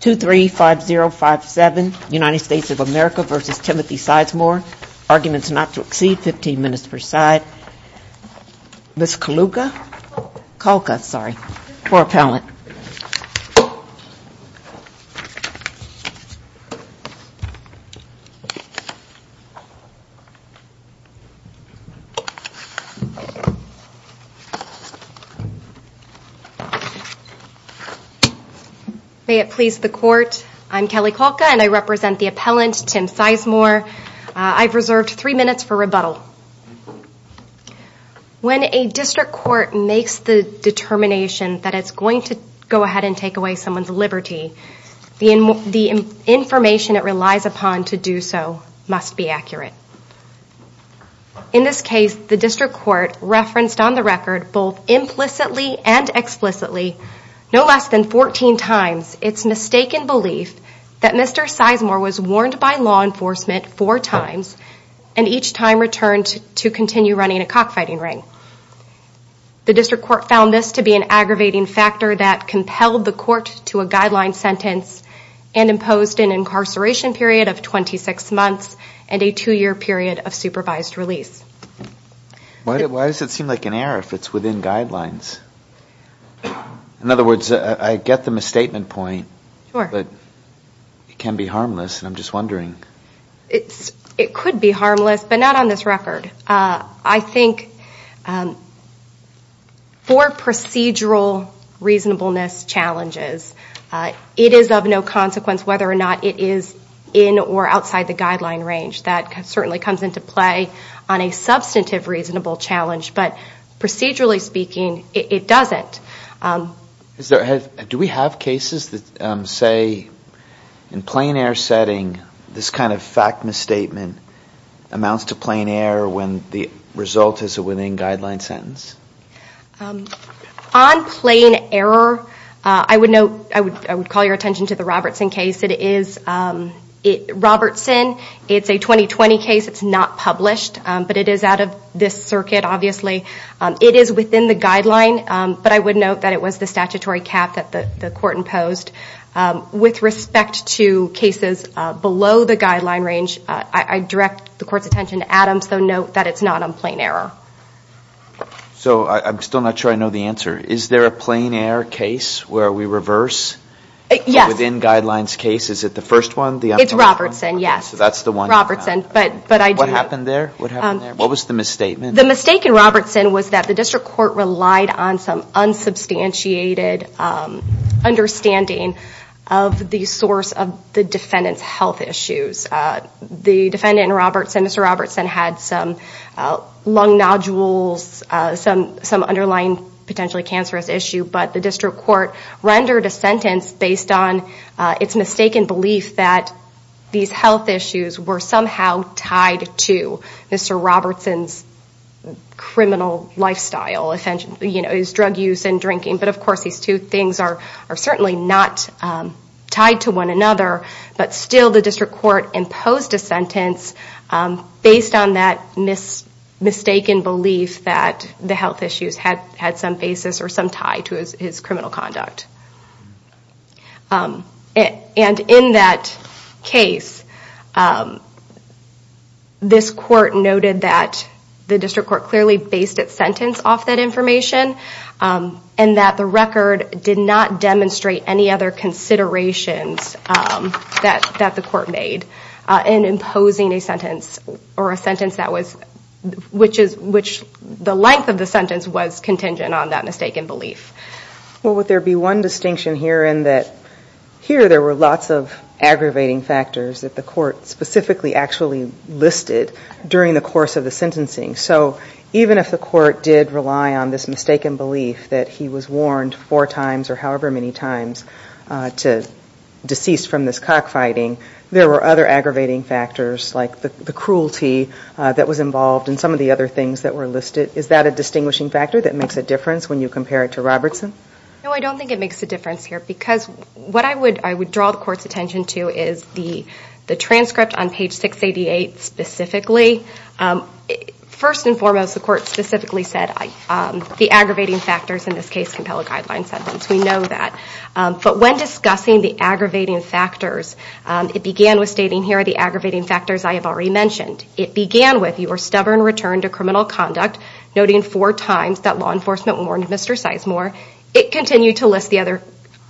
2-3-5-0-5-7 United States of America versus Timothy Sizemore. Arguments not to exceed 15 minutes per side. Ms. Kalka for appellant. May it please the court, I'm Kelly Kalka and I represent the appellant, Tim Sizemore. I've reserved three minutes for rebuttal. When a district court makes the determination that it's going to go ahead and take away someone's liberty, the information it relies upon to do so must be accurate. In this case, the district court referenced on the record both implicitly and explicitly no less than 14 times its mistaken belief that Mr. Sizemore was warned by law enforcement four times and each time returned to continue running a cockfighting ring. The district court found this to be an aggravating factor that compelled the court to a guideline sentence and imposed an incarceration period of 26 months and a two-year period of supervised release. Why does it seem like an error if it's within guidelines? In other words, I get the misstatement point, but it can be harmless. I'm just wondering. It could be harmless, but not on this record. I think for procedural reasonableness challenges, it is of no consequence whether or not it is in or outside the guideline range. That certainly comes into play on a substantive reasonable challenge, but procedurally speaking, it doesn't. Do we have cases that say in plain air setting, this kind of fact misstatement amounts to plain air when the result is within a guideline sentence? On plain error, I would call your attention to the Robertson case. Robertson, it's a 2020 case. It's not published, but it is out of this circuit, obviously. It is within the guideline, but I would note that it was the statutory cap that the court imposed. With respect to cases below the guideline range, I direct the court's attention to Adams, though note that it's not on plain error. I'm still not sure I know the answer. Is there a plain error case where we reverse within guidelines case? Is it the first one? It's Robertson, yes. That's the one. What happened there? What was the misstatement? The mistake in Robertson was that the district court relied on some unsubstantiated understanding of the source of the defendant's health issues. The defendant in Robertson, Mr. Robertson, had some lung nodules, some underlying potentially cancerous issue, but the district court rendered a sentence based on its mistaken belief that these health issues were somehow tied to Mr. Robertson's criminal lifestyle, his drug use and drinking. Of course, these two things are certainly not tied to one another, but still the district court imposed a sentence based on that mistaken belief that the health issues had some basis or some tie to his criminal conduct. In that case, this court noted that the district court clearly based its sentence off that information and that the record did not demonstrate any other considerations that the court made in imposing a sentence, which the length of the sentence was contingent on that mistaken belief. Would there be one distinction here in that here there were lots of aggravating factors that the court specifically actually listed during the course of the sentencing, so even if the court did rely on this mistaken belief that he was warned four times or however many times to decease from this cockfighting, there were other aggravating factors like the cruelty that was involved and some of the other things that were listed. Is that a distinguishing factor that makes a difference when you compare it to Robertson? No, I don't think it makes a difference here because what I would draw the court's attention to is the transcript on page 688 specifically. First and foremost, the court specifically said the aggravating factors in this case compel a guideline sentence. We know that, but when discussing the aggravating factors, it began with stating here are the aggravating factors I have already mentioned. It began with your stubborn return to criminal conduct, noting four times that law enforcement warned Mr. Sizemore. It continued to list the other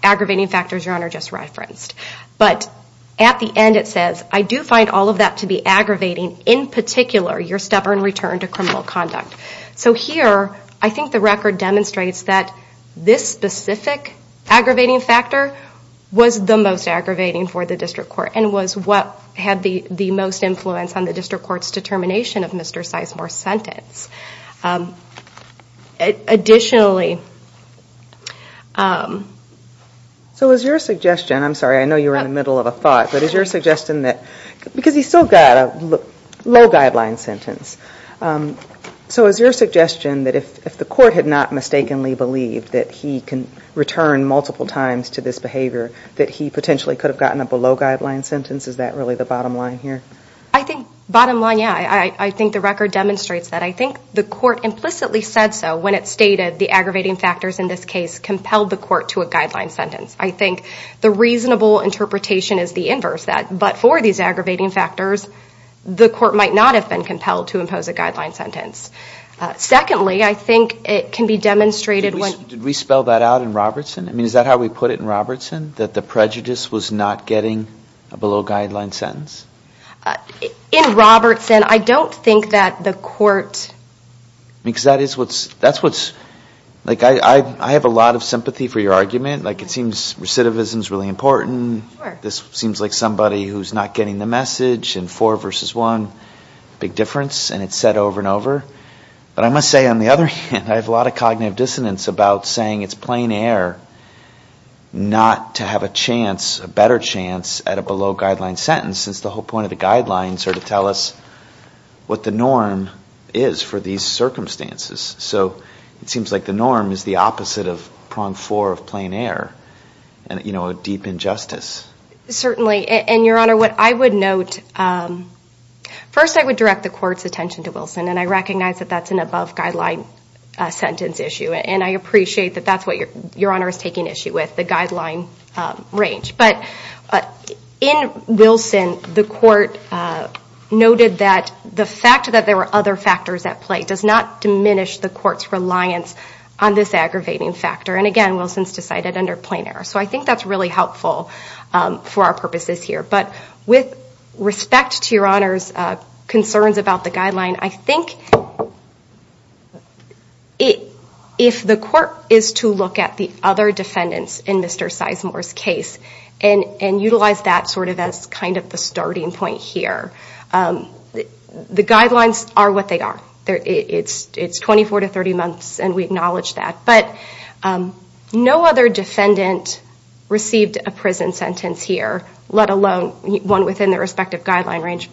aggravating factors Your Honor just referenced, but at the end it says I do find all of that to be aggravating, in particular your stubborn return to criminal conduct. So here, I think the record demonstrates that this specific aggravating factor was the most aggravating for the district court and was what had the most influence on the district court's determination of Mr. Sizemore's sentence. Additionally... So is your suggestion, I'm sorry I know you were in the middle of a thought, but is your suggestion that if the court had not mistakenly believed that he can return multiple times to this behavior, that he potentially could have gotten up a low guideline sentence? Is that really the bottom line here? I think bottom line, yeah. I think the record demonstrates that. I think the court implicitly said so when it stated the aggravating factors in this case compelled the court to a guideline sentence. I think the reasonable interpretation is the inverse of that, but for these aggravating factors, the court might not have been compelled to impose a guideline sentence. Secondly, I think it can be demonstrated when... Did we spell that out in Robertson? I mean, is that how we put it in Robertson? That the prejudice was not getting a below guideline sentence? In Robertson, I don't think that the court... Because that is what's... I have a lot of sympathy for your argument. It seems recidivism is really important. This seems like somebody who's not getting the message, and four versus one, big difference, and it's said over and over. But I must say, on the other hand, I have a lot of cognitive dissonance about saying it's plain air not to have a chance, a better chance at a below guideline sentence, since the whole point of the guidelines are to tell us what the norm is for these circumstances. So it seems like the norm is the opposite of prong four of plain air, a deep injustice. Certainly. And your honor, what I would note... First, I would direct the court's attention to Wilson, and I recognize that that's an above guideline sentence issue, and I appreciate that that's what your honor is taking issue with, the guideline range. But in Wilson, the court noted that the fact that there were other factors at play does not diminish the court's reliance on this aggravating factor. And again, Wilson's decided under plain air. So I think that's really helpful for our purposes here. But with respect to your honor's concerns about the guideline, I think if the court is to look at the other defendants in Mr. Sizemore's case, and utilize that as the starting point here, the guidelines are what they are. It's 24 to 30 months, and we acknowledge that. But no other defendant received a prison sentence here, let alone one within their respective guideline range.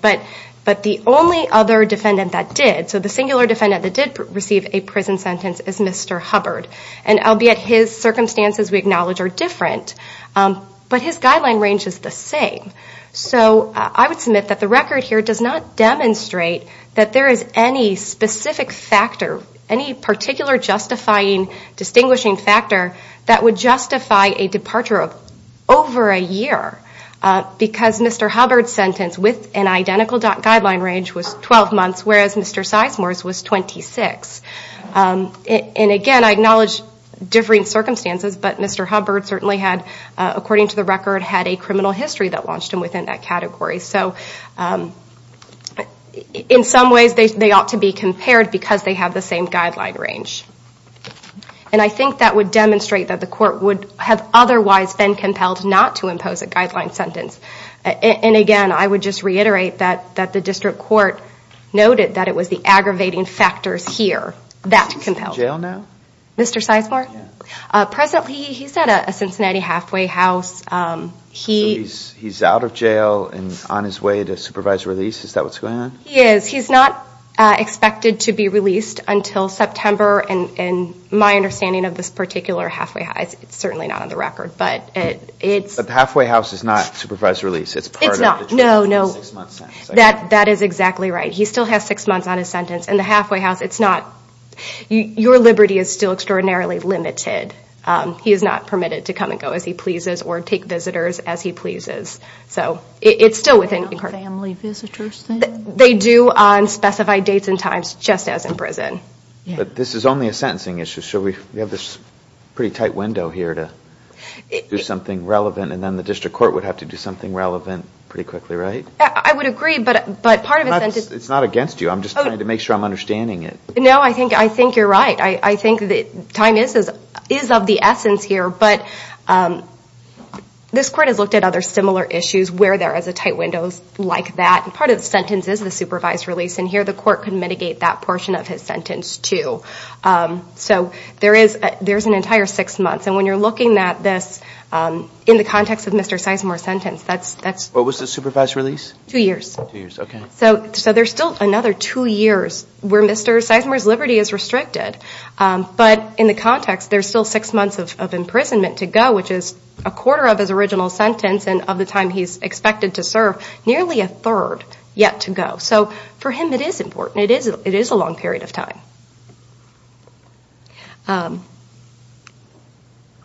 But the only other defendant that did, so the singular defendant that did receive a prison sentence, is Mr. Hubbard. And albeit his circumstances we acknowledge are different, but his guideline range is the same. So I would submit that the record here does not demonstrate that there is any specific factor, any particular justifying, distinguishing factor that would justify a departure of over a year. Because Mr. Hubbard's sentence with an identical guideline range was 12 months, whereas Mr. Sizemore's was 26. And again, I acknowledge differing circumstances, but Mr. Hubbard certainly had, according to the record, had a criminal history that launched him within that category. So in some ways they ought to be compared because they have the same guideline range. And I think that would demonstrate that the court would have otherwise been compelled not to impose a guideline sentence. And again, I would just reiterate that the district court noted that it was the aggravating factors here that compelled it. Is he in jail now? Mr. Sizemore? Yeah. Presently, he's at a Cincinnati halfway house. So he's out of jail and on his way to supervised release? Is that what's going on? He is. He's not expected to be released until September. And my understanding of this particular halfway house, it's certainly not on the record, but it's... But the halfway house is not supervised release. It's part of the jail sentence, a six-month sentence. That is exactly right. He still has six months on his sentence. And the halfway house, it's not... Your liberty is still extraordinarily limited. He is not permitted to come and go as he pleases or take visitors as he pleases. So it's still within... Family visitors then? They do on specified dates and times, just as in prison. But this is only a sentencing issue. So we have this pretty tight window here to do something relevant and then the district court would have to do something relevant pretty quickly, right? I would agree, but part of the sentence... It's not against you. I'm just trying to make sure I'm understanding it. No, I think you're right. I think that time is of the essence here, but this court has looked at other similar issues where there is a tight window like that. Part of the sentence is the supervised release, and here the court can mitigate that portion of his sentence, too. So there's an entire six months. And when you're looking at this in the context of Mr. Seismer's... Two years. Two years, okay. So there's still another two years where Mr. Seismer's liberty is restricted. But in the context, there's still six months of imprisonment to go, which is a quarter of his original sentence and of the time he's expected to serve, nearly a third yet to go. So for him, it is important. It is a long period of time.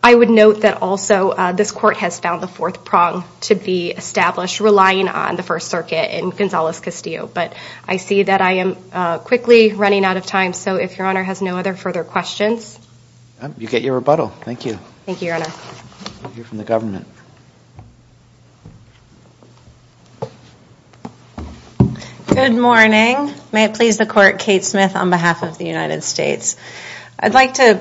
I would note that also this court has found the fourth prong to be established, relying on the First Circuit and Gonzales-Castillo. But I see that I am quickly running out of time, so if Your Honor has no other further questions... You get your rebuttal. Thank you. Thank you, Your Honor. We'll hear from the government. Good morning. May it please the court, Kate Smith on behalf of the United States. I'd like to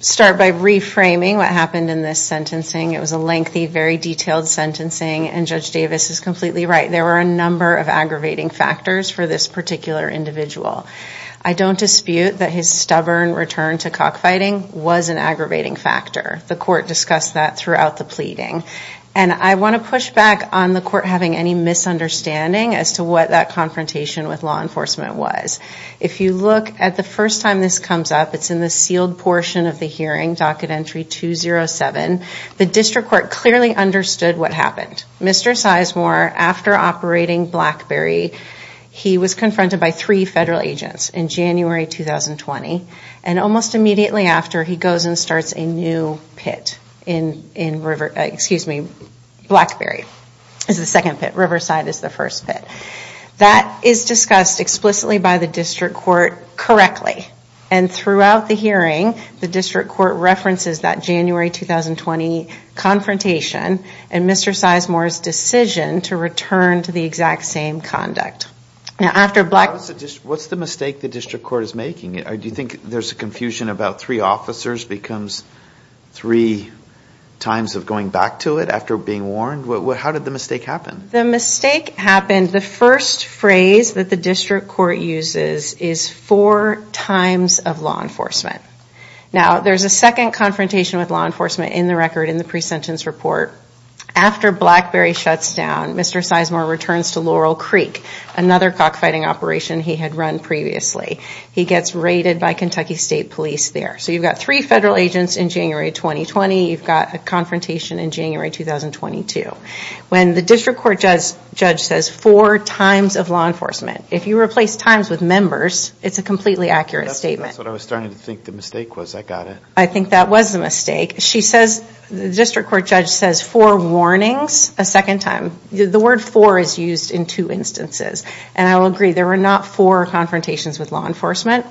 start by reframing what happened in this sentencing. It was a lengthy, very detailed sentencing, and Judge Davis is completely right. There were a number of aggravating factors for this particular individual. I don't dispute that his stubborn return to cockfighting was an aggravating factor. The court discussed that throughout the pleading. And I want to push back on the court having any misunderstanding as to what that confrontation with law enforcement was. If you look at the first time this comes up, it's in the sealed portion of the hearing, docket entry 207. The district court clearly understood what happened. Mr. Sizemore, after operating Blackberry, he was confronted by three federal agents in January 2020. And almost immediately after, he goes and starts a new pit in Blackberry. It's the second pit. Riverside is the first pit. That is discussed explicitly by the district court correctly. And throughout the hearing, the district court references that January 2020 confrontation and Mr. Sizemore's decision to return to the exact same conduct. What's the mistake the district court is making? Do you think there's a confusion about three officers becomes three times of going back to it after being warned? How did the mistake happen? The first phrase that the district court uses is four times of law enforcement. Now, there's a second confrontation with law enforcement in the record in the presentence report. After Blackberry shuts down, Mr. Sizemore returns to Laurel Creek, another cockfighting operation he had run previously. He gets raided by Kentucky State Police there. So you've got three federal agents in January 2020. You've got a confrontation in January 2022. When the district court judge says four times of law enforcement, if you replace times with members, it's a completely accurate statement. That's what I was starting to think the mistake was. I got it. I think that was the mistake. She says, the district court judge says four warnings a second time. The word four is used in two instances. And I will agree, there were not four confrontations with law enforcement.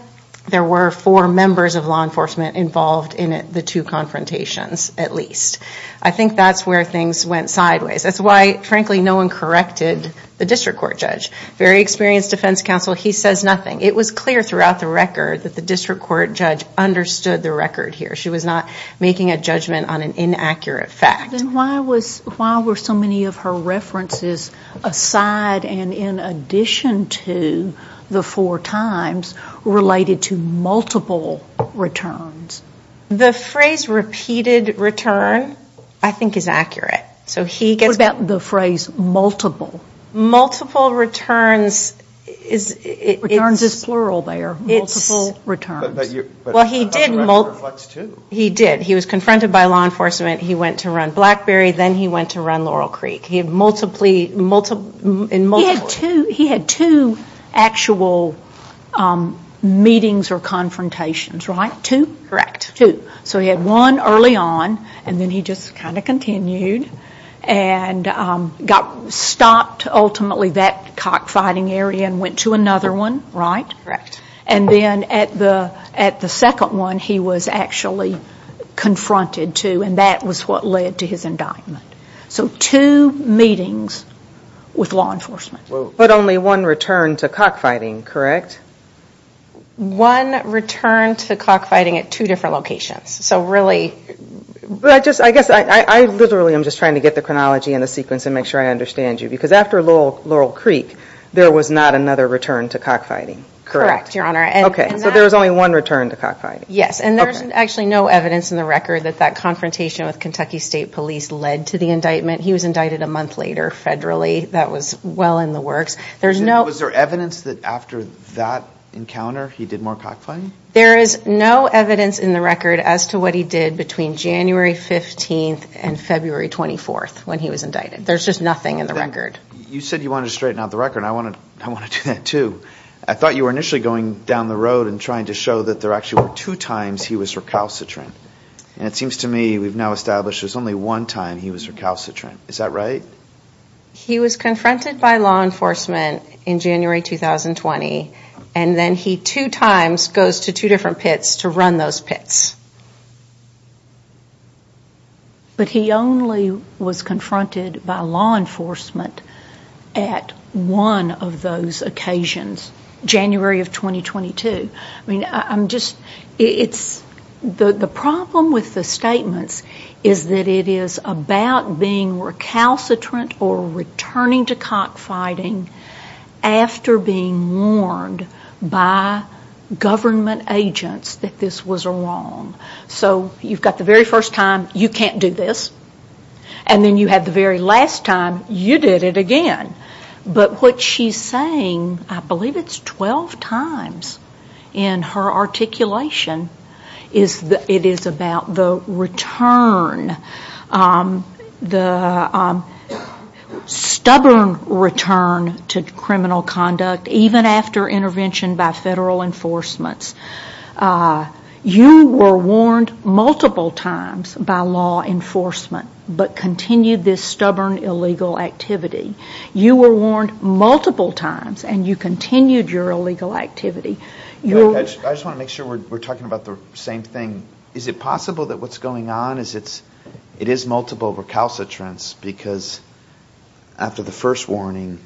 There were four members of law enforcement involved in the two confrontations, at least. I think that's where things went sideways. That's why, frankly, no one corrected the district court judge. Very experienced defense counsel. He says nothing. It was clear throughout the record that the district court judge understood the record here. She was not making a judgment on an inaccurate fact. Then why were so many of her references aside and in addition to the four times related to multiple returns? The phrase repeated return I think is accurate. What about the phrase multiple? Multiple returns is plural there. Multiple returns. He did. He was confronted by law enforcement. He went to run BlackBerry. Then he went to meetings or confrontations, right? Two? Correct. Two. So he had one early on and then he just kind of continued and stopped ultimately that cockfighting area and went to another one, right? Correct. And then at the second one he was actually confronted too and that was what led to his indictment. So two meetings with law enforcement. But only one return to cockfighting, correct? One return to cockfighting at two different locations. So really... I guess I literally am just trying to get the chronology and the sequence and make sure I understand you. Because after Laurel Creek there was not another return to cockfighting, correct? Correct, Your Honor. Okay. So there was only one return to cockfighting. Yes. And there's actually no evidence in the record that that confrontation with Kentucky State Police led to the indictment. He was indicted a month later federally. That was well in the works. Was there evidence that after that encounter he did more cockfighting? There is no evidence in the record as to what he did between January 15th and February 24th when he was indicted. There's just nothing in the record. You said you wanted to straighten out the record and I want to do that too. I thought you were initially going down the road and trying to show that there actually were two times he was recalcitrant. And it seems to me we've now established there's only one time he was recalcitrant. Is that right? He was confronted by law enforcement in January 2020 and then he two times goes to two different pits to run those pits. But he only was confronted by law enforcement at one of those occasions, January of 2022. The problem with the statements is that it is about being recalcitrant or returning to cockfighting after being warned by government agents that this was wrong. So you've got the very first time, you can't do this. And then you had the very last time, you did it again. But what she's saying, I believe it's 12 times in her articulation, it is about the return, the stubborn return to criminal conduct even after intervention by federal enforcements. You were warned multiple times by law enforcement but continued this stubborn illegal activity. You were warned multiple times and you continued your illegal activity. I just want to make sure we're talking about the same thing. Is it possible that what's going on is it is multiple recalcitrants because after the first warning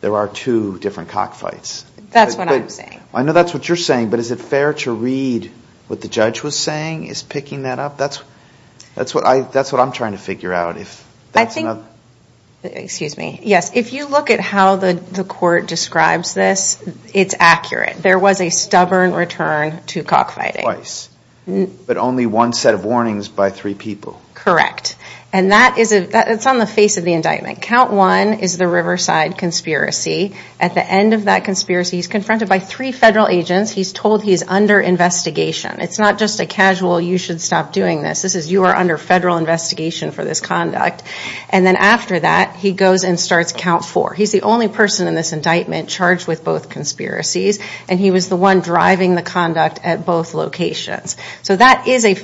there are two different cockfights? That's what I'm saying. I know that's what you're saying but is it fair to read what the judge was saying is picking that up? That's what I'm trying to figure out. If you look at how the court describes this, it's accurate. There was a stubborn return to cockfighting. Twice. But only one set of warnings by three people. Correct. And that is on the face of the indictment. Count one is the Riverside conspiracy. At the end of that conspiracy he's confronted by three federal agents. He's told he's under investigation. It's not just a casual you should stop doing this. This is you are under federal investigation for this conduct. And then after that he goes and starts count four. He's the only person in this indictment charged with both conspiracies and he was the one driving the conduct at both locations. So that is a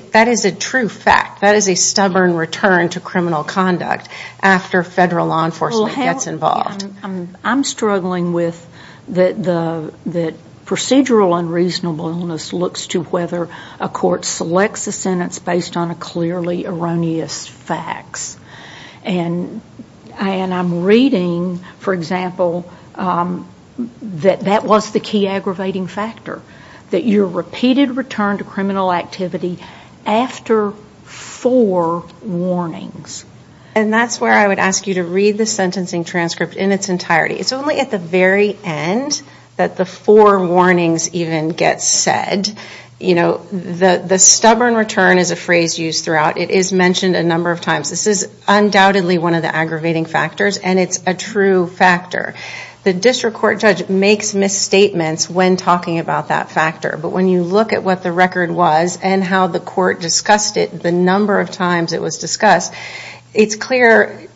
true fact. That is a stubborn return to criminal conduct after federal law enforcement gets involved. I'm struggling with the procedural unreasonable illness looks to whether a court selects a sentence based on a clearly erroneous facts. And I'm reading, for example, that that was the key aggravating factor. That your repeated return to criminal activity after four warnings. And that's where I would ask you to read the sentencing transcript in its entirety. It's only at the very end that the four warnings even get said. You know, the stubborn return is a phrase used throughout. It is mentioned a number of times. This is undoubtedly one of the aggravating factors and it's a true factor. The district court judge makes misstatements when talking about that factor. But when you look at what the record was and how the court discussed, it's clear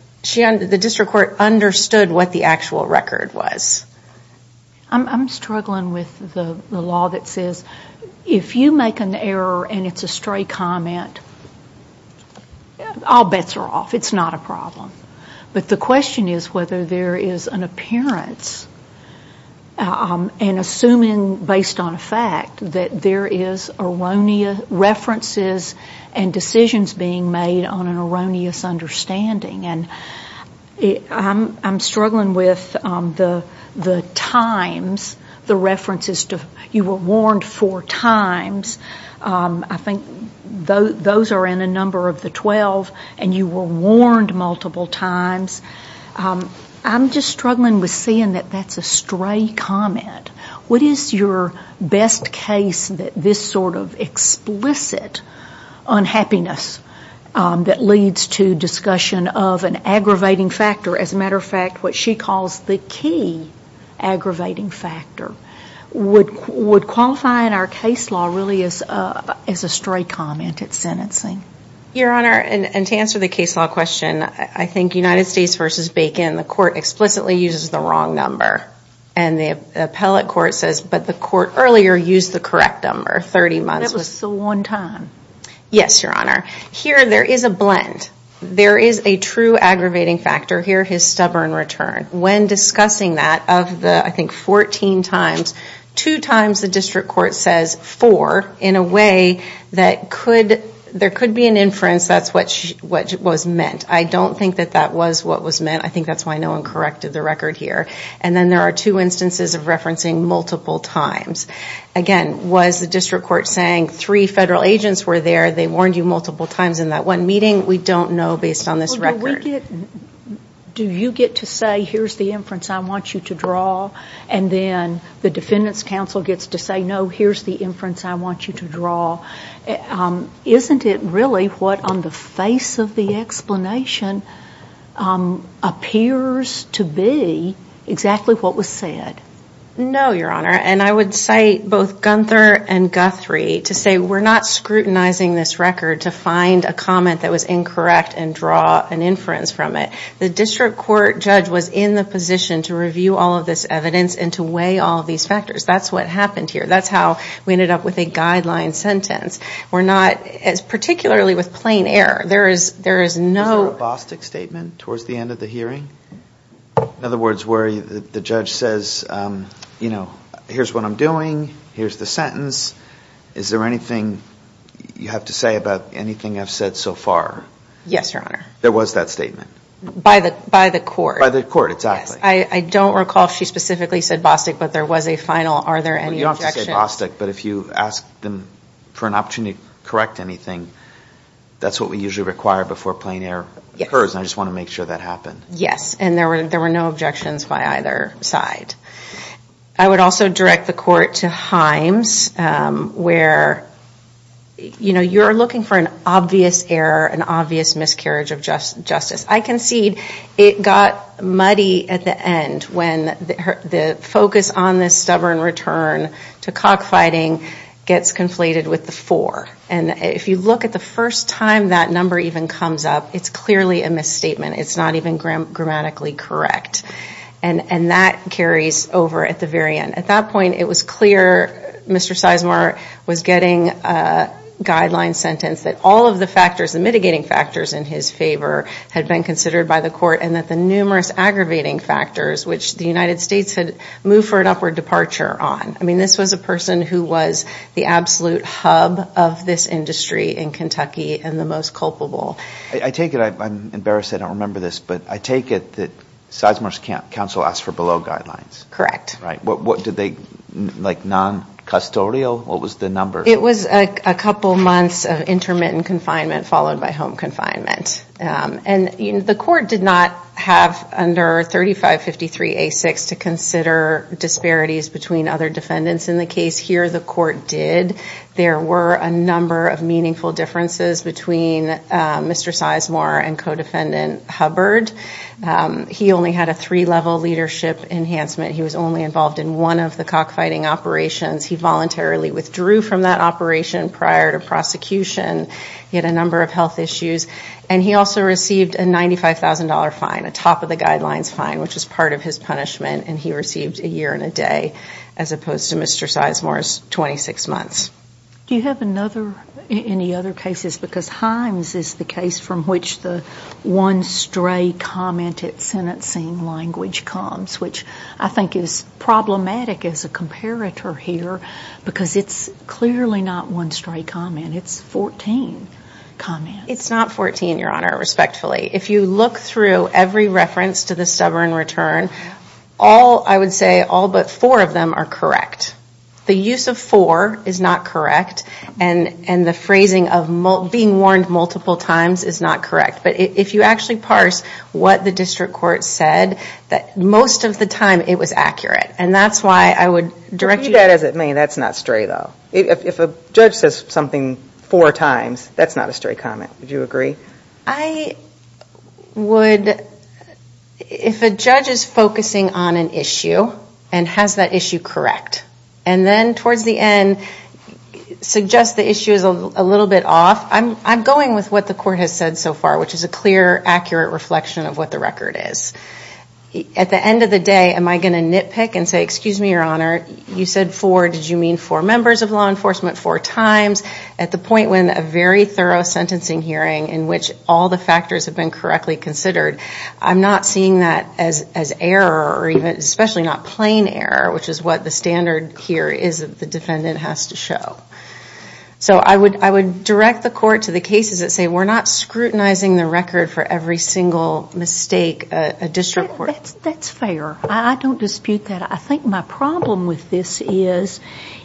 the district court understood what the actual record was. I'm struggling with the law that says if you make an error and it's a stray comment, all bets are off. It's not a problem. But the question is whether there is an appearance and assuming based on a fact that there is references and decisions being made on an erroneous understanding. And I'm struggling with the times, the references to you were warned four times. I think those are in a number of the 12 and you were warned multiple times. I'm just struggling with seeing that that's a stray comment. What is your best case that this sort of explicit unhappiness that leads to discussion of an aggravating factor, as a matter of fact what she calls the key aggravating factor, would qualify in our case law really as a stray comment at sentencing? Your Honor, and to answer the case law question, I think United States v. Bacon, the court explicitly uses the wrong number. And the appellate court says, but the court earlier used the correct number, 30 months. That was so one time. Yes, Your Honor. Here there is a blend. There is a true aggravating factor here, his stubborn return. When discussing that, of the I think 14 times, two times the district court says four in a way that there could be an inference that's what was meant. I don't think that that was what was meant. I think that's why no one corrected the record here. And then there are two instances of referencing multiple times. Again, was the district court saying three federal agents were there, they warned you multiple times in that one meeting? We don't know based on this record. Do you get to say, here's the inference I want you to draw, and then the defendant's counsel gets to say, no, here's the inference I want you to draw. Isn't it really what on the face of the explanation appears to be exactly what was said? No, Your Honor. And I would say both Gunther and Guthrie to say we're not scrutinizing this record to find a comment that was incorrect and draw an inference from it. The district court judge was in the position to review all of this evidence and to weigh all of these factors. That's what happened here. That's how we ended up with a guideline sentence. We're not, particularly with plain air, there is no... Was there a Bostick statement towards the end of the hearing? In other words, where the judge says, you know, here's what I'm doing, here's the sentence, is there anything you have to say about anything I've said so far? Yes, Your Honor. There was that statement? By the court. By the court, exactly. Yes, I don't recall if she specifically said Bostick, but there was a final, are there any objections? You don't have to say Bostick, but if you ask them for an opportunity to correct anything, that's what we usually require before plain air occurs, and I just want to make sure that happened. Yes, and there were no objections by either side. I would also direct the court to Himes, where, you know, you're looking for an obvious error, an obvious miscarriage of justice. I concede it got muddy at the end when the focus on this stubborn return to cockfighting gets conflated with the four, and if you look at the first time that number even comes up, it's clearly a misstatement. It's not even grammatically correct, and that carries over at the very end. At that point, it was clear Mr. Sizemore was getting a guideline sentence that all of the factors, the mitigating factors in his favor had been considered by the court and that the numerous aggravating factors, which the United States had moved for an upward departure on. I mean, this was a person who was the absolute hub of this industry in Kentucky and the most culpable. I take it, I'm embarrassed I don't remember this, but I take it that Sizemore's counsel asked for below guidelines. Correct. Right. What did they, like non-custodial, what was the number? It was a couple months of intermittent confinement followed by home confinement, and the court did not have under 3553A6 to consider disparities between other defendants in the case. Here, the court did. There were a number of meaningful differences between Mr. Sizemore and co-defendant Hubbard. He only had a three-level leadership enhancement. He was only involved in one of the cockfighting operations. He voluntarily withdrew from that operation prior to prosecution. He had a number of health issues, and he also received a $95,000 fine, a top-of-the-guidelines fine, which was part of his punishment, and he received a year and a day as opposed to Mr. Sizemore's 26 months. Do you have another, any other cases, because Himes is the case from which the one stray comment at sentencing language comes, which I think is problematic as a comparator here, because it's clearly not one stray comment. It's 14 comments. It's not 14, Your Honor, respectfully. If you look through every reference to the stubborn return, all, I would say all but four of them are correct. The use of four is not correct, and the phrasing of being warned multiple times is not correct, but if you actually parse what the district court said, most of the time it was accurate, and that's why I would direct you to... If you do that as it may, that's not stray, though. If a judge says something four times, that's not a stray comment. Would you agree? I would, if a judge is focusing on an issue and has that issue correct, and then towards the end suggests the issue is a little bit off, I'm going with what the court has said so far, which is a clear, accurate reflection of what the record is. At the end of the day, am I going to nitpick and say, excuse me, Your Honor, you said four. Did you mean four members of law enforcement four times? At the point when a very thorough sentencing hearing in which all the factors have been correctly considered, I'm not seeing that as error or even, especially not plain error, which is what the standard here is that the defendant has to show. So I would direct the court to the cases that say we're not scrutinizing the record for every single mistake a district court... That's fair. I don't dispute that. I think my problem with this is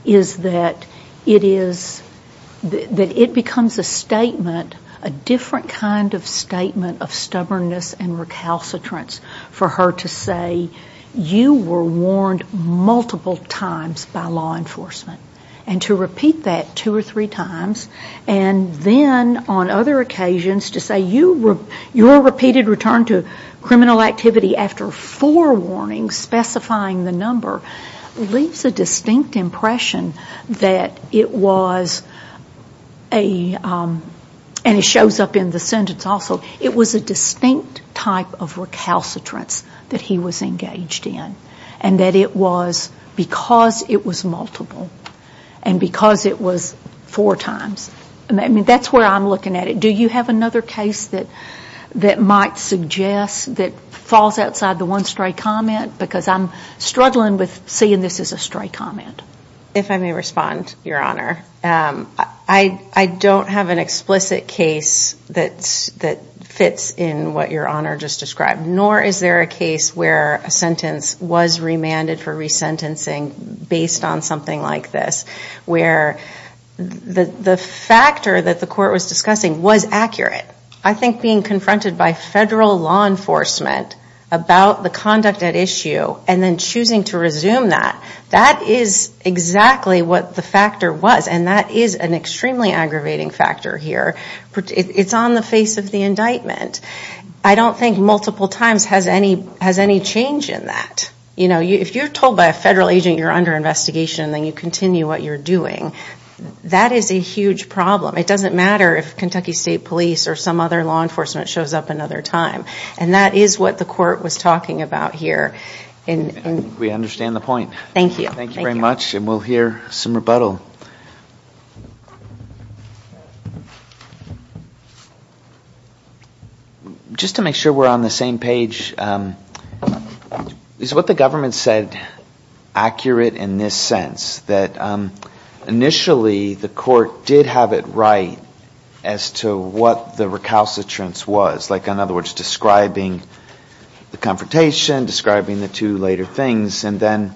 that it becomes a statement, a different kind of statement of stubbornness and recalcitrance for her to say you were warned multiple times by law enforcement, and to repeat that two or three times, and then on other occasions to say your repeated return to criminal activity after four warnings specifying the number leaves a distinct impression that it was a, and it shows up in the sentence also, it was a distinct type of recalcitrance that he was engaged in. And that it was because it was multiple and because it was four times. I mean, that's where I'm looking at it. Do you have another case that might suggest that falls outside the one stray comment? Because I'm struggling with seeing this as a stray comment. If I may respond, Your Honor. I don't have an explicit case that fits in what Your Honor just described. Nor is there a case where a sentence was remanded for resentencing based on something like this. Where the factor that the court was discussing was accurate. I think being confronted by federal law enforcement about the conduct at issue and then choosing to resume that, that is exactly what the factor was, and that is an extremely aggravating factor here. It's on the face of the indictment. I don't think multiple times has any change in that. You know, if you're told by a federal agent you're under investigation and then you continue what you're doing, that is a huge problem. It doesn't matter if Kentucky State Police or some other law enforcement shows up another time. And that is what the court was talking about here. I think we understand the point. Thank you. Thank you very much, and we'll hear some rebuttal. Just to make sure we're on the same page, is what the government said accurate in this sense? That initially the court did have it right as to what the recalcitrance was. Like, in other words, describing the confrontation, describing the two later things, and then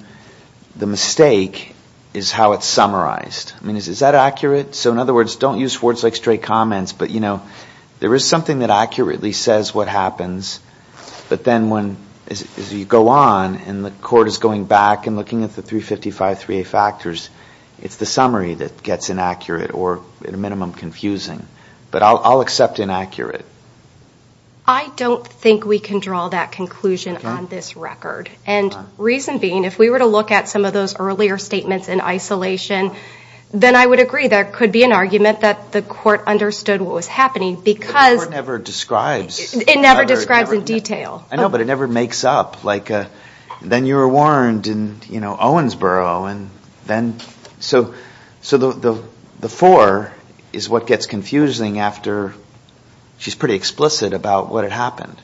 the mistake is how it's summarized. I mean, is that accurate? So in other words, don't use words like stray comments, but, you know, there is something that accurately says what happens. But then as you go on and the court is going back and looking at the 355-3A factors, it's the summary that gets inaccurate or, at a minimum, confusing. But I'll accept inaccurate. I don't think we can draw that conclusion on this record. And reason being, if we were to look at some of those earlier statements in isolation, then I would agree there could be an argument that the court understood what was happening because The court never describes. It never describes in detail. I know, but it never makes up. Like, then you were warned in, you know, Owensboro, and then. So the four is what gets confusing after she's pretty explicit about what had happened.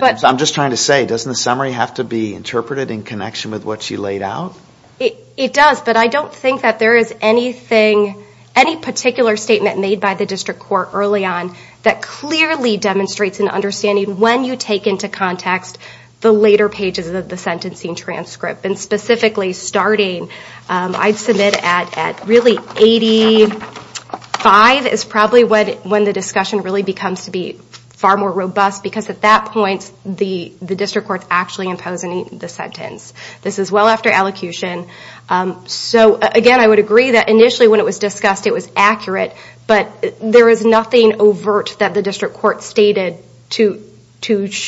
I'm just trying to say, doesn't the summary have to be interpreted in connection with what she laid out? It does, but I don't think that there is anything, any particular statement made by the district court early on that clearly demonstrates an understanding when you take into context the later pages of the sentencing transcript. And specifically starting, I'd submit at really 85 is probably when the discussion really becomes to be far more robust, because at that point, the district court's actually imposing the sentence. This is well after allocution. So, again, I would agree that initially when it was discussed, it was accurate, but there is nothing overt that the district court stated to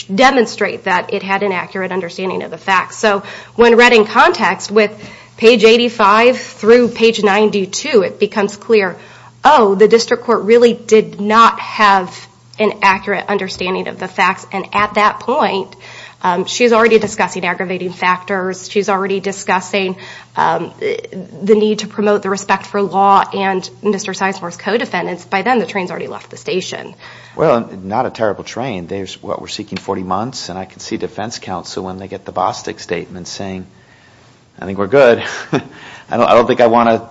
demonstrate that it had an accurate understanding of the facts. So when read in context with page 85 through page 92, it becomes clear, oh, the district court really did not have an accurate understanding of the facts. And at that point, she's already discussing aggravating factors. She's already discussing the need to promote the respect for law and Mr. Sizemore's co-defendants. By then, the train's already left the station. Well, not a terrible train. There's what we're seeking 40 months, and I can see defense counsel when they get the Bostick statement saying, I think we're good. I don't think I want to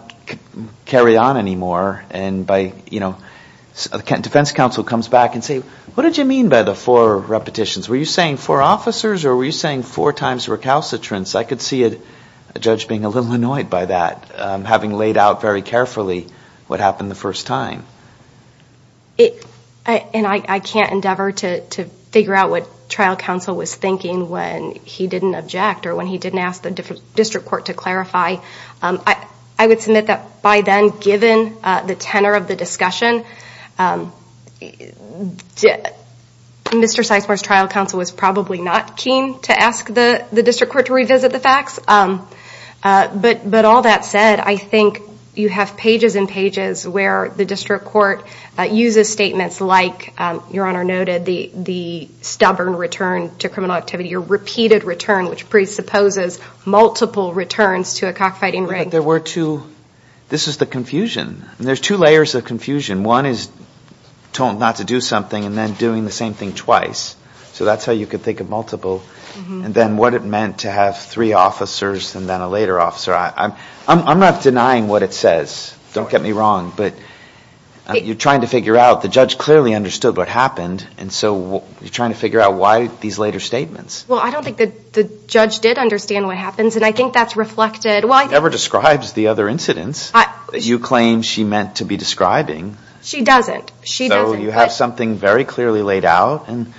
carry on anymore. And defense counsel comes back and say, what did you mean by the four repetitions? Were you saying four officers or were you saying four times recalcitrance? I could see a judge being a little annoyed by that, having laid out very carefully what happened the first time. And I can't endeavor to figure out what trial counsel was thinking when he didn't object or when he didn't ask the district court to clarify. I would submit that by then, given the tenor of the discussion, Mr. Sizemore's trial counsel was probably not keen to ask the district court to revisit the facts. But all that said, I think you have pages and pages where the district court uses statements like, Your Honor noted, the stubborn return to criminal activity, your repeated return, which presupposes multiple returns to a cockfighting rig. There were two. This is the confusion. There's two layers of confusion. One is told not to do something and then doing the same thing twice. So that's how you could think of multiple. And then what it meant to have three officers and then a later officer. I'm not denying what it says. Don't get me wrong. But you're trying to figure out. The judge clearly understood what happened. And so you're trying to figure out why these later statements. Well, I don't think the judge did understand what happens. And I think that's reflected. It never describes the other incidents that you claim she meant to be describing. She doesn't. She doesn't. So you have something very clearly laid out. And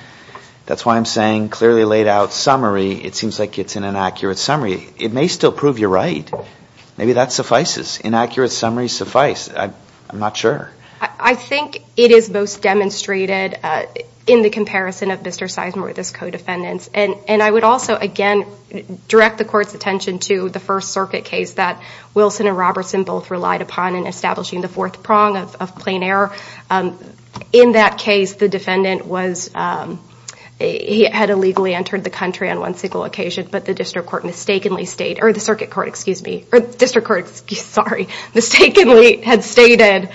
that's why I'm saying clearly laid out summary. It seems like it's an inaccurate summary. It may still prove you're right. Maybe that suffices. Inaccurate summaries suffice. I'm not sure. I think it is most demonstrated in the comparison of Mr. Sizemore and his co-defendants. And I would also, again, direct the court's attention to the First Circuit case that Wilson and Robertson both relied upon in establishing the fourth prong of plain error. In that case, the defendant had illegally entered the country on one single occasion. But the district court mistakenly stated, or the circuit court, excuse me, or the district court, sorry, mistakenly had stated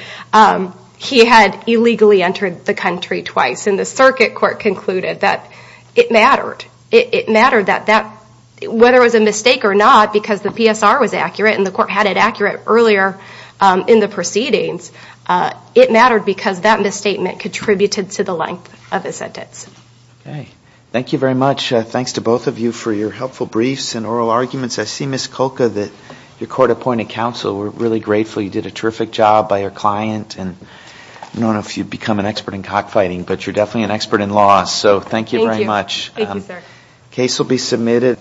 he had illegally entered the country twice. And the circuit court concluded that it mattered. It mattered that whether it was a mistake or not, because the PSR was accurate and the court had it accurate earlier in the proceedings, it mattered because that misstatement contributed to the length of the sentence. Okay. Thank you very much. Thanks to both of you for your helpful briefs and oral arguments. I see, Ms. Kolka, that your court appointed counsel. We're really grateful. You did a terrific job by your client. And I don't know if you've become an expert in cockfighting, but you're definitely an expert in law. So thank you very much. Thank you, sir. The case will be submitted.